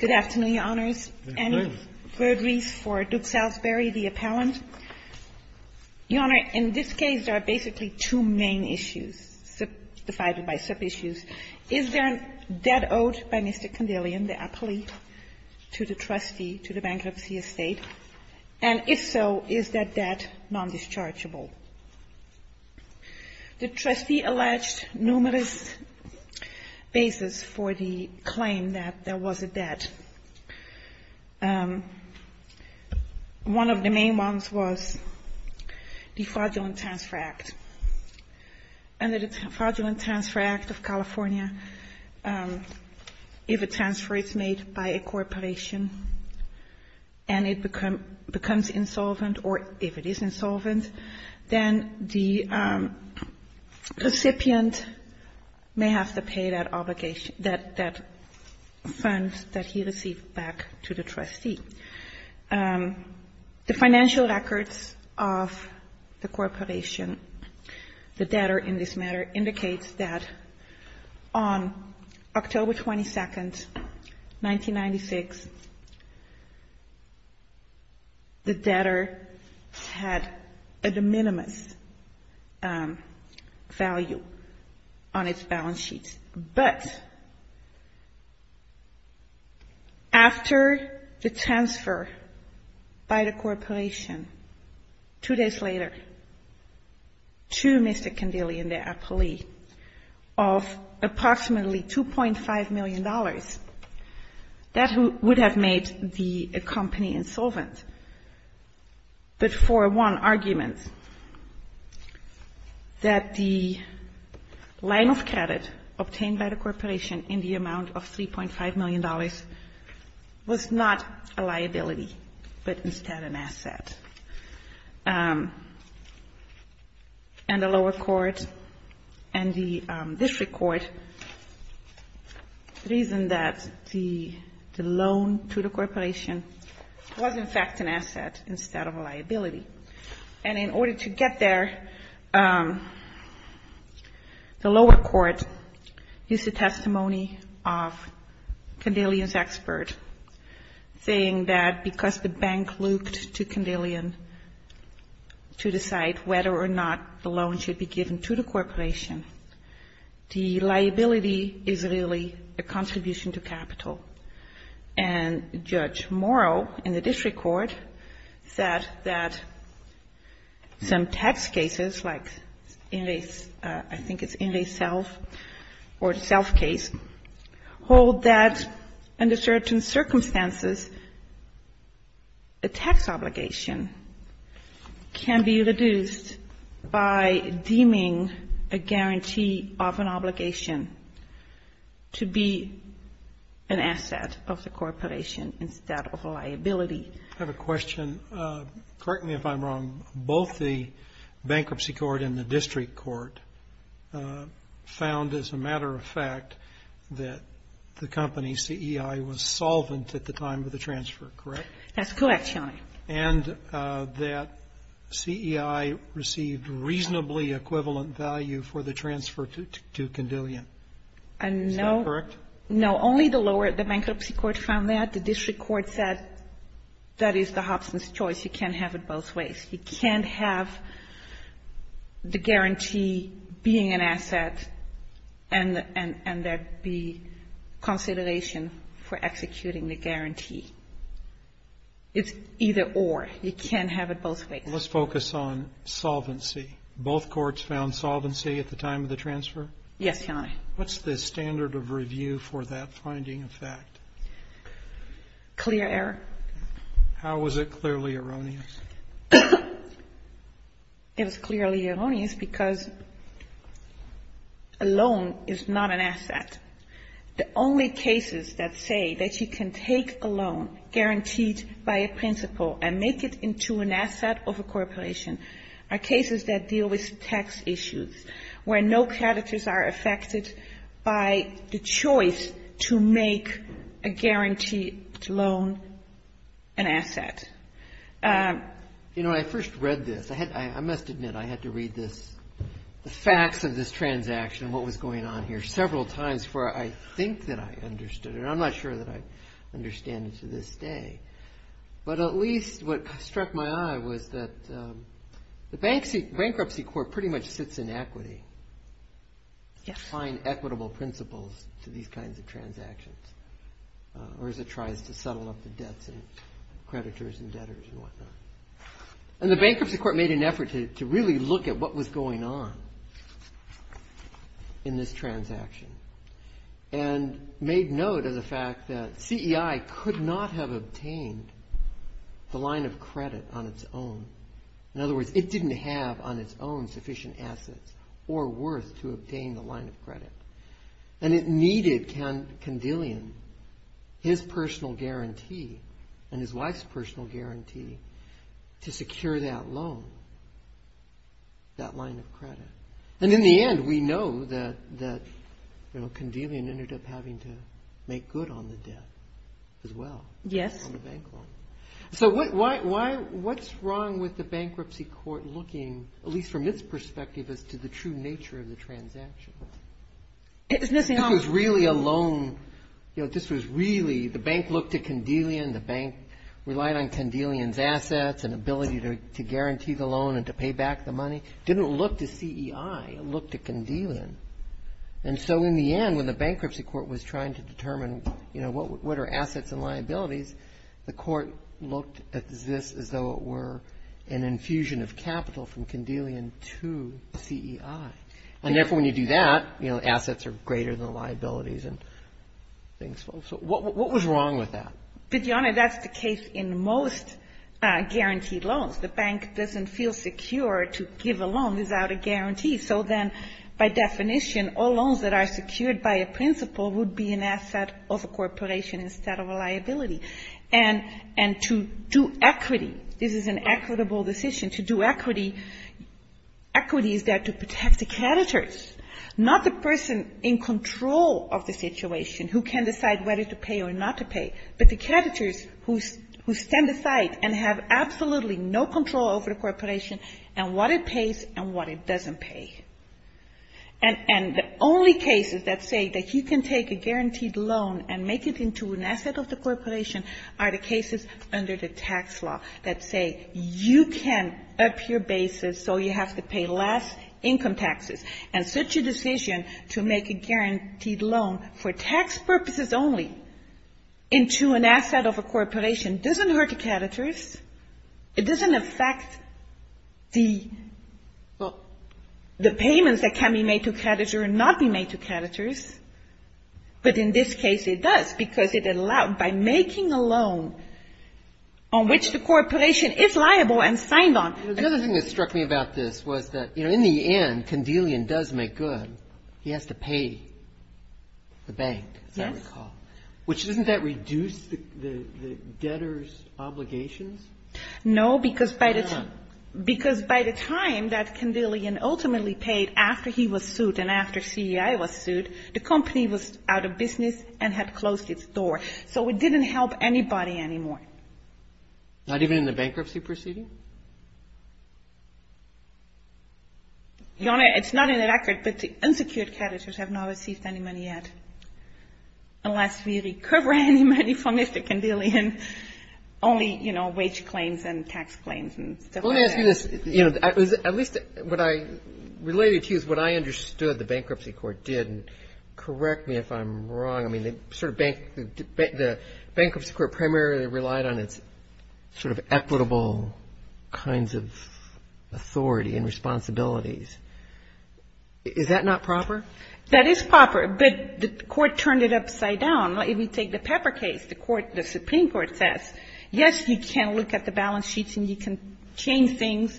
Good afternoon, Your Honors. Any furderies for Duke Salisbury, the appellant? Your Honor, in this case there are basically two main issues, divided by sub-issues. Is there a debt owed by Mr. Kandilian, the appellee, to the trustee, to the bankruptcy estate? And if so, is that debt non-dischargeable? The trustee alleged numerous bases for the claim that there was a debt. One of the main ones was the Fraudulent Transfer Act. Under the Fraudulent Transfer Act of California, if a transfer is made by a corporation and it becomes insolvent, or if it is insolvent, then the recipient may have to pay that obligation, that funds that he received back to the trustee. The financial records of the corporation, the debtor in this matter, indicates that on October 22, 1996, the debtor had a de minimis value on its balance sheet. But after the transfer by the corporation, two days later, to Mr. Kandilian, the appellee, of approximately $2.5 million, that would have made the company insolvent. But for one argument, that the line of credit obtained by the corporation in the amount of $3.5 million was not a liability, but instead an asset. And the lower court and the district court reasoned that the loan to the corporation was in fact an asset instead of a liability. And in order to get there, the lower court used the testimony of Kandilian's expert, saying that because the bank looked to Kandilian to decide whether or not the loan should be given to the corporation, the liability is really a contribution to capital. And Judge Morrow in the district court said that some tax cases, like Inlay's, I think it's Inlay's self, or self case, hold that under certain circumstances, a tax obligation can be reduced by deeming a guarantee of an obligation to be an asset of the corporation instead of a liability. I have a question. Correct me if I'm wrong. Both the bankruptcy court and the district court found as a matter of fact that the company, CEI, was solvent at the time of the transfer, correct? That's correct, Your Honor. And that CEI received reasonably equivalent value for the transfer to Kandilian. No. Is that correct? No. Only the lower, the bankruptcy court found that. The district court said that is the Hobson's choice. You can't have it both ways. You can't have the guarantee being an asset and there be consideration for executing the guarantee. It's either or. You can't have it both ways. Let's focus on solvency. Both courts found solvency at the time of the transfer? Yes, Your Honor. What's the standard of review for that finding of fact? Clear error. How was it clearly erroneous? It was clearly erroneous because a loan is not an asset. The only cases that say that you can take a loan guaranteed by a principal and make it into an asset of a corporation are cases that deal with tax issues where no creditors are affected by the choice to make a guaranteed loan an asset. You know, I first read this. I must admit I had to read this, the facts of this transaction and what was going on here several times before I think that I understood it. I'm not sure that I understand it to this day. But at least what struck my eye was that the bankruptcy court pretty much sits in equity to find equitable principles to these kinds of transactions or as it tries to settle up the debts and creditors and debtors and whatnot. And the bankruptcy court made an effort to really look at what was going on in this transaction and made note of the fact that CEI could not have obtained the line of credit on its own. In other words, it didn't have on its own sufficient assets or worth to obtain the line of credit. And it needed Condillion, his personal guarantee and his wife's personal guarantee to secure that loan, that line of credit. And in the end, we know that Condillion ended up having to make good on the debt as well. Yes. So what's wrong with the bankruptcy court looking, at least from its perspective, as to the true nature of the transaction? It was really a loan. You know, this was really the bank looked at Condillion. The bank relied on Condillion's assets and ability to guarantee the loan and to pay back the money. It didn't look to CEI. It looked to Condillion. And so in the end, when the bankruptcy court was trying to determine, you know, what are assets and liabilities, the court looked at this as though it were an infusion of capital from Condillion to CEI. And therefore, when you do that, you know, assets are greater than liabilities and things. So what was wrong with that? But, Your Honor, that's the case in most guaranteed loans. The bank doesn't feel secure to give a loan without a guarantee. So then, by definition, all loans that are secured by a principal would be an asset of a corporation instead of a liability. And to do equity, this is an equitable decision, to do equity, equity is there to protect the creditors, not the person in control of the situation who can decide whether to pay or not to pay, but the creditors who stand aside and have absolutely no control over the corporation and what it pays and what it doesn't pay. And the only cases that say that you can take a guaranteed loan and make it into an asset of the corporation are the cases under the tax law that say you can up your basis so you have to pay less income taxes. And such a decision to make a guaranteed loan for tax purposes only into an asset of a corporation doesn't hurt the creditors. It doesn't affect the payments that can be made to creditors or not be made to creditors. But in this case, it does, because it allowed, by making a loan on which the corporation is liable and signed on. The other thing that struck me about this was that, you know, in the end, Kandelian does make good. He has to pay the bank, as I recall. Which, doesn't that reduce the debtor's obligations? No, because by the time that Kandelian ultimately paid after he was sued and after CEI was sued, the company was out of business and had closed its door. So it didn't help anybody anymore. Your Honor, it's not in the record, but the unsecured creditors have not received any money yet, unless we recover any money from Mr. Kandelian. Only, you know, wage claims and tax claims and stuff like that. Let me ask you this. You know, at least what I related to is what I understood the Bankruptcy Court did, and correct me if I'm wrong. I mean, the Bankruptcy Court primarily relied on its sort of equitable kinds of, you know, sort of authority and responsibilities. Is that not proper? That is proper, but the Court turned it upside down. If you take the Pepper case, the Supreme Court says, yes, you can look at the balance sheets and you can change things,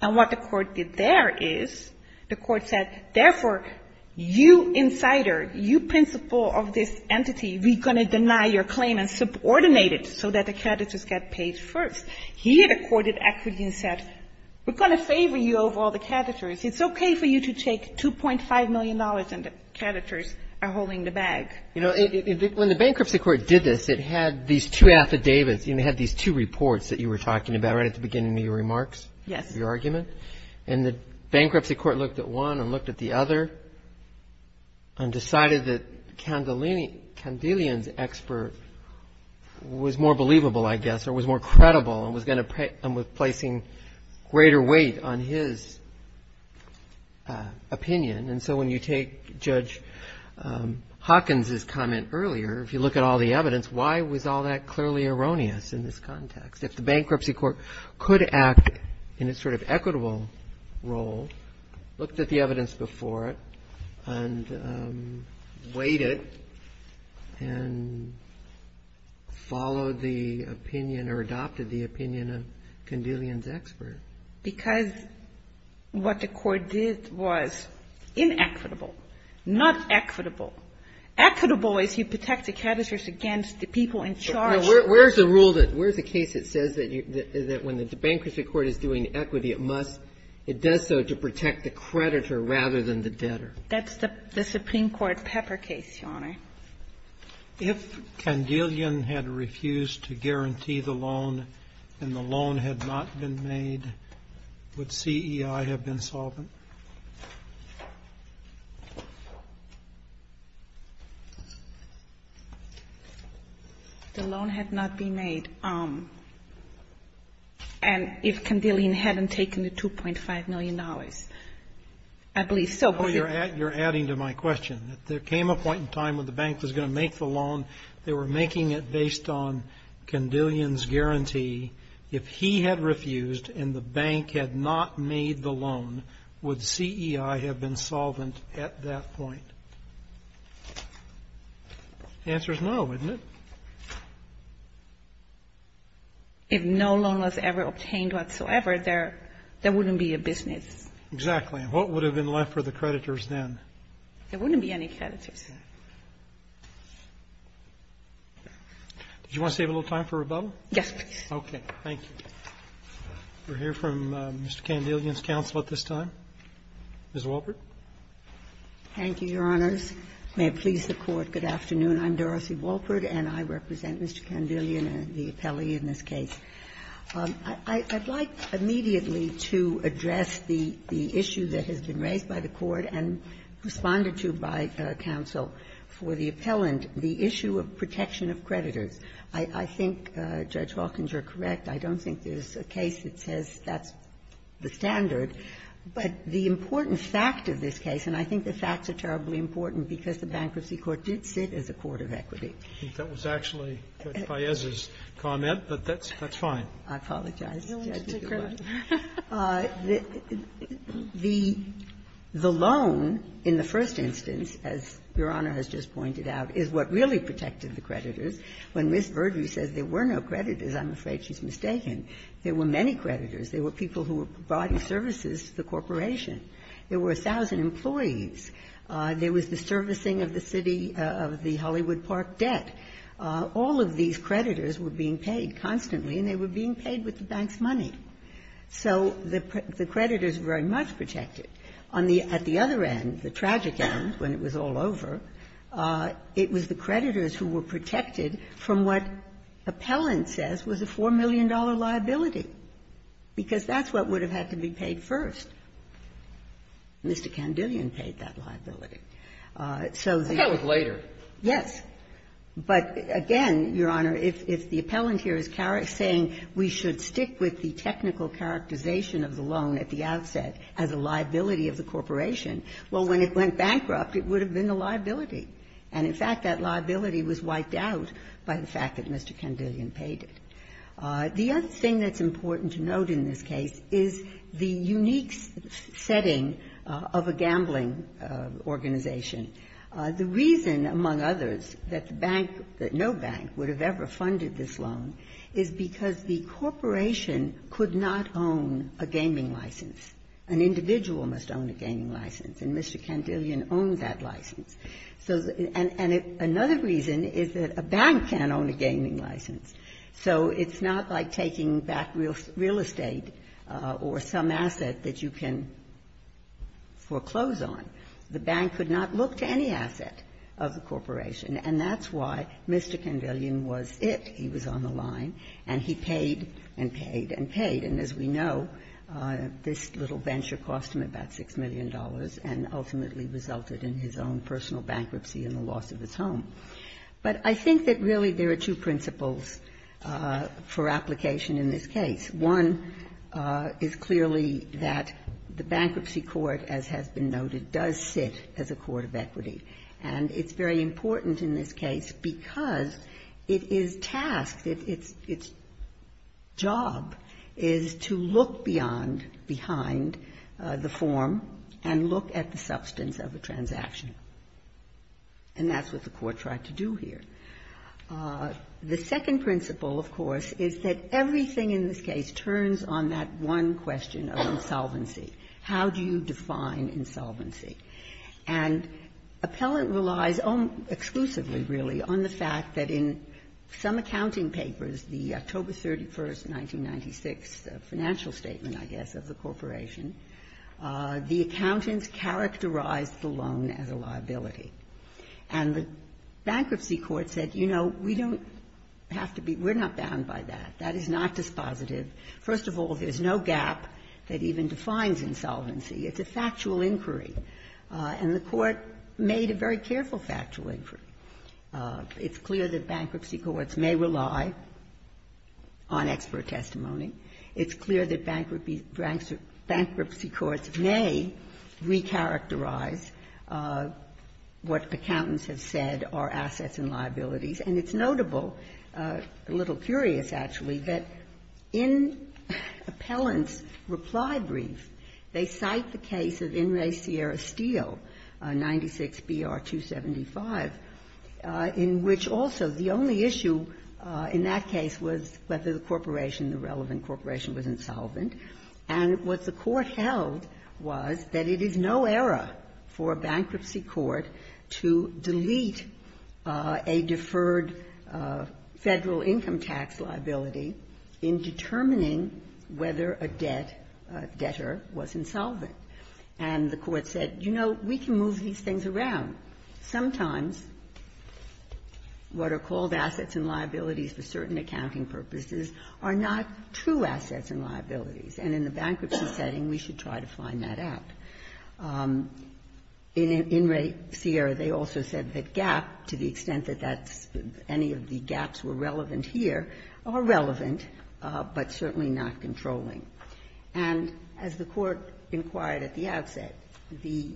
and what the Court did there is the Court said, therefore, you insider, you principal of this entity, we're going to deny your claim and subordinate it so that the creditors get paid first. Here, the Court actually said, we're going to favor you over all the creditors. It's okay for you to take $2.5 million and the creditors are holding the bag. You know, when the Bankruptcy Court did this, it had these two affidavits, you know, it had these two reports that you were talking about right at the beginning of your remarks, your argument. And the Bankruptcy Court looked at one and looked at the other and decided that the Candelian's expert was more believable, I guess, or was more credible and was going to – and was placing greater weight on his opinion. And so when you take Judge Hawkins's comment earlier, if you look at all the evidence, why was all that clearly erroneous in this context? If the Bankruptcy Court could act in a sort of equitable role, looked at the evidence before it, and weighed it, and said, you know, we're going to favor you over all the creditors, and followed the opinion or adopted the opinion of Candelian's expert. Because what the Court did was inequitable, not equitable. Equitable is you protect the creditors against the people in charge. Where's the rule that – where's the case that says that when the Bankruptcy Court is doing equity, it must – it does so to protect the creditor rather than the debtor? That's the Supreme Court Pepper case, Your Honor. If Candelian had refused to guarantee the loan and the loan had not been made, would CEI have been solvent? The loan had not been made. And if Candelian hadn't taken the $2.5 million, I believe so. No, you're adding to my question. If there came a point in time when the bank was going to make the loan, they were making it based on Candelian's guarantee. If he had refused and the bank had not made the loan, would CEI have been solvent at that point? The answer is no, isn't it? If no loan was ever obtained whatsoever, there wouldn't be a business. Exactly. And what would have been left for the creditors then? There wouldn't be any creditors. Did you want to save a little time for rebuttal? Yes, please. Okay. Thank you. We'll hear from Mr. Candelian's counsel at this time. Ms. Walpert. Thank you, Your Honors. May it please the Court, good afternoon. I'm Dorothy Walpert, and I represent Mr. Candelian and the appellee in this case. I'd like immediately to address the issue that has been raised by the Court and responded to by counsel for the appellant, the issue of protection of creditors. I think Judge Hawkins, you're correct, I don't think there's a case that says that's the standard. But the important fact of this case, and I think the facts are terribly important because the Bankruptcy Court did sit as a court of equity. I think that was actually Judge Paez's comment, but that's fine. I apologize, Judge. It's a credit. The loan, in the first instance, as Your Honor has just pointed out, is what really protected the creditors. When Ms. Verdu says there were no creditors, I'm afraid she's mistaken. There were many creditors. There were people who were providing services to the corporation. There were 1,000 employees. There was the servicing of the city of the Hollywood Park debt. All of these creditors were being paid constantly, and they were being paid with the bank's money. So the creditors were very much protected. On the other end, the tragic end, when it was all over, it was the creditors who were protected from what appellant says was a $4 million liability, because that's what would have had to be paid first. Mr. Candillion paid that liability. So the other thing that's important to note in this case is the unique state of the loan. of a gambling organization. The reason, among others, that the bank, that no bank, would have ever funded this loan is because the corporation could not own a gaming license. An individual must own a gaming license, and Mr. Candillion owned that license. And another reason is that a bank can't own a gaming license. So it's not like taking back real estate or some asset that you can foreclose on. The bank could not look to any asset of the corporation, and that's why Mr. Candillion was it. He was on the line, and he paid and paid and paid. And as we know, this little venture cost him about $6 million and ultimately resulted in his own personal bankruptcy and the loss of his home. But I think that really there are two principles for application in this case. One is clearly that the bankruptcy court, as has been noted, does sit as a court of equity, and it's very important in this case because it is tasked, its job is to look beyond, behind the form and look at the substance of a transaction. And that's what the court tried to do here. The second principle, of course, is that everything in this case turns on that one question of insolvency. How do you define insolvency? And Appellant relies exclusively, really, on the fact that in some accounting papers, the October 31, 1996 financial statement, I guess, of the corporation, the accountants characterized the loan as a liability. And the bankruptcy court said, you know, we don't have to be we're not bound by that. That is not dispositive. First of all, there's no gap that even defines insolvency. It's a factual inquiry. And the court made a very careful factual inquiry. It's clear that bankruptcy courts may rely on expert testimony. It's clear that bankruptcy courts may recharacterize what accountants have said are assets and liabilities. And it's notable, a little curious, actually, that in Appellant's reply brief, they cite the case of In re Sierra Steele, 96 BR 275, in which also the only issue in that case was whether the corporation, the relevant corporation, was insolvent. And what the court held was that it is no error for a bankruptcy court to delete a deferred Federal income tax liability in determining whether a debtor was insolvent. And the court said, you know, we can move these things around. Sometimes what are called assets and liabilities for certain accounting purposes are not true assets and liabilities, and in the bankruptcy setting, we should try to find that out. In re Sierra, they also said that gap, to the extent that that's any of the gaps were relevant here, are relevant, but certainly not controlling. And as the Court inquired at the outset, the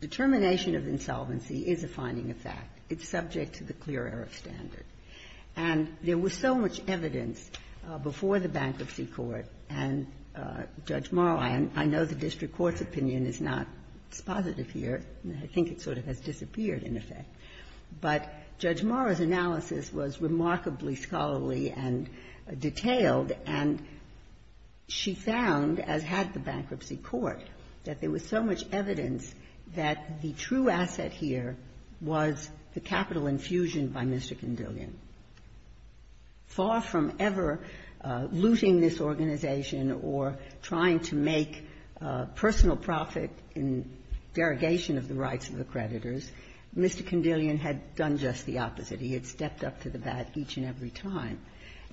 determination of insolvency is a finding of fact. It's subject to the clear error of standard. And there was so much evidence before the bankruptcy court, and Judge Mara, and I know the district court's opinion is not as positive here. I think it sort of has disappeared, in effect. But Judge Mara's analysis was remarkably scholarly and detailed, and it was a very good analysis. She found, as had the bankruptcy court, that there was so much evidence that the true asset here was the capital infusion by Mr. Condillion. Far from ever looting this organization or trying to make personal profit in derogation of the rights of the creditors, Mr. Condillion had done just the opposite. He had stepped up to the bat each and every time.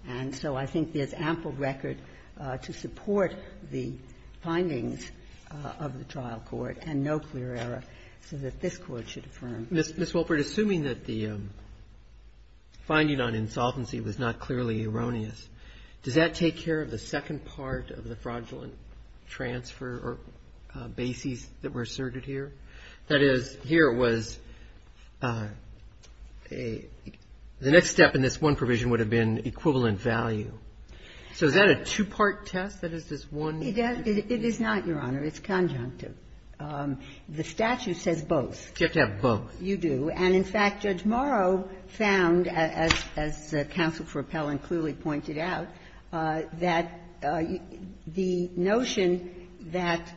And so I think there's ample record to support the findings of the trial court, and no clear error, so that this Court should affirm. Roberts. Ms. Wolpert, assuming that the finding on insolvency was not clearly erroneous, does that take care of the second part of the fraudulent transfer or bases that were asserted here? That is, here it was a the next step in this one provision would have been equivalent value. So is that a two-part test? That is, this one? It is not, Your Honor. It's conjunctive. The statute says both. You have to have both. You do. And, in fact, Judge Morrow found, as Counsel for Appellant clearly pointed out, that the notion that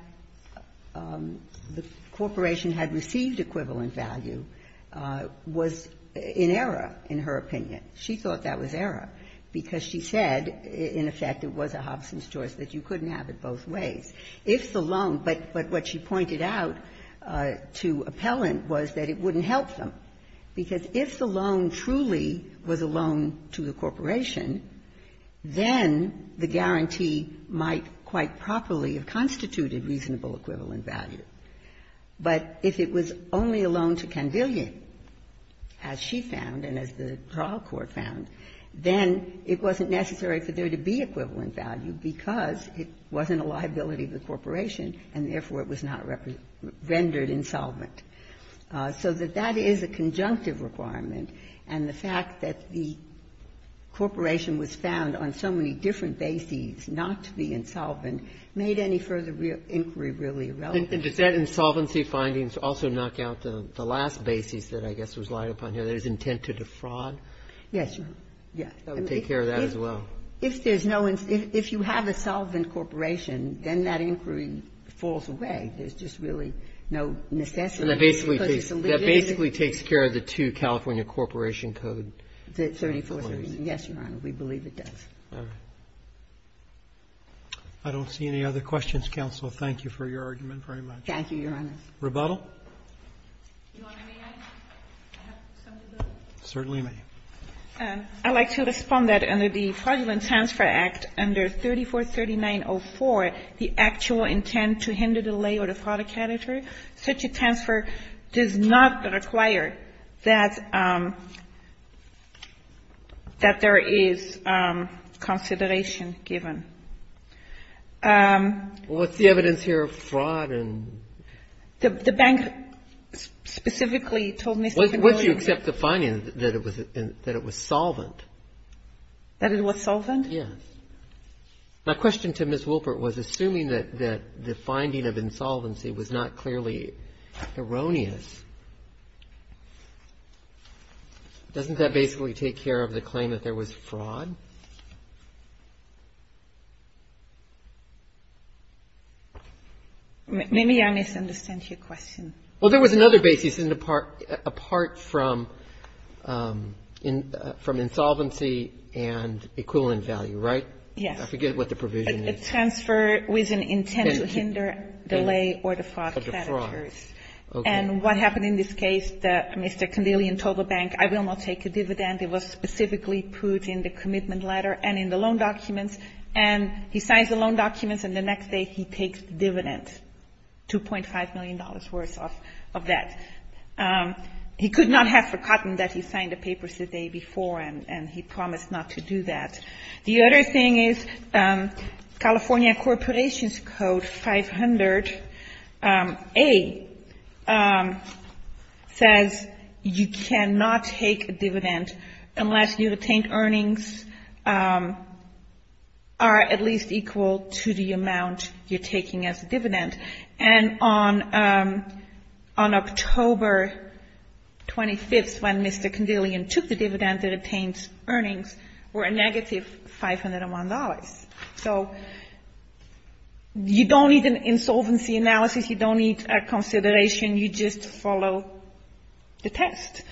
the corporation had received equivalent value was in error, in her opinion. She thought that was error, because she said, in effect, it was a Hobson's choice, that you couldn't have it both ways. If the loan – but what she pointed out to Appellant was that it wouldn't help them, because if the loan truly was a loan to the corporation, then the guarantee might quite properly have constituted reasonable equivalent value. But if it was only a loan to Candelia, as she found and as the trial court found, then it wasn't necessary for there to be equivalent value because it wasn't a liability of the corporation, and therefore it was not rendered insolvent. So that that is a conjunctive requirement, and the fact that the corporation was found on so many different bases not to be insolvent made any further inquiry really irrelevant. And does that insolvency findings also knock out the last basis that I guess was lied upon here, that it was intended to fraud? Yes, Your Honor. Yes. So it would take care of that as well. If there's no – if you have a solvent corporation, then that inquiry falls away. There's just really no necessity because it's a liability. That basically takes care of the two California Corporation Code claims. Yes, Your Honor. We believe it does. All right. I don't see any other questions, counsel. Thank you for your argument very much. Thank you, Your Honor. Rebuttal? Your Honor, may I have some rebuttal? Certainly, ma'am. I'd like to respond that under the Fraudulent Transfer Act, under 3439.04, the actual intent to hinder the lay or the fraud character, such a transfer does not require that – that there is consideration given. Well, what's the evidence here of fraud and – The bank specifically told me something earlier. Once you accept the finding that it was solvent. That it was solvent? Yes. My question to Ms. Wolpert was, assuming that the finding of insolvency was not clearly erroneous, doesn't that basically take care of the claim that there was fraud? May I misunderstand your question? Well, there was another basis in the part – apart from – from insolvency and equivalent value, right? Yes. I forget what the provision is. A transfer with an intent to hinder the lay or the fraud characters. And what happened in this case, Mr. Kandelian told the bank, I will not take a dividend. It was specifically put in the commitment letter and in the loan documents. And he signs the loan documents, and the next day he takes dividends, $2.5 million worth of that. He could not have forgotten that he signed the papers the day before, and he promised not to do that. The other thing is, California Corporations Code 500A says you cannot take a dividend unless you've obtained earnings are at least equal to the amount you're taking as a dividend. And on October 25th, when Mr. Kandelian took the dividend and obtained earnings, were a negative $501. So, you don't need an insolvency analysis. You don't need a consideration. You just follow the test.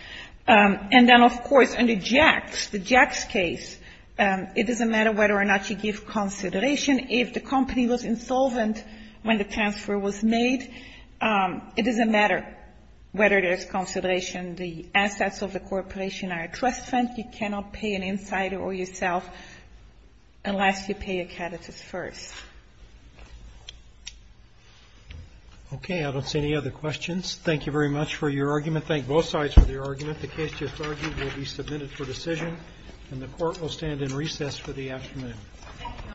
And then, of course, under JAX, the JAX case, it doesn't matter whether or not you give consideration. If the company was insolvent when the transfer was made, it doesn't matter whether there's consideration. The assets of the corporation are a trust fund. You cannot pay an insider or yourself unless you pay a catechist first. OK, I don't see any other questions. Thank you very much for your argument. Thank both sides for the argument. The case just argued will be submitted for decision, and the court will stand in recess for the afternoon.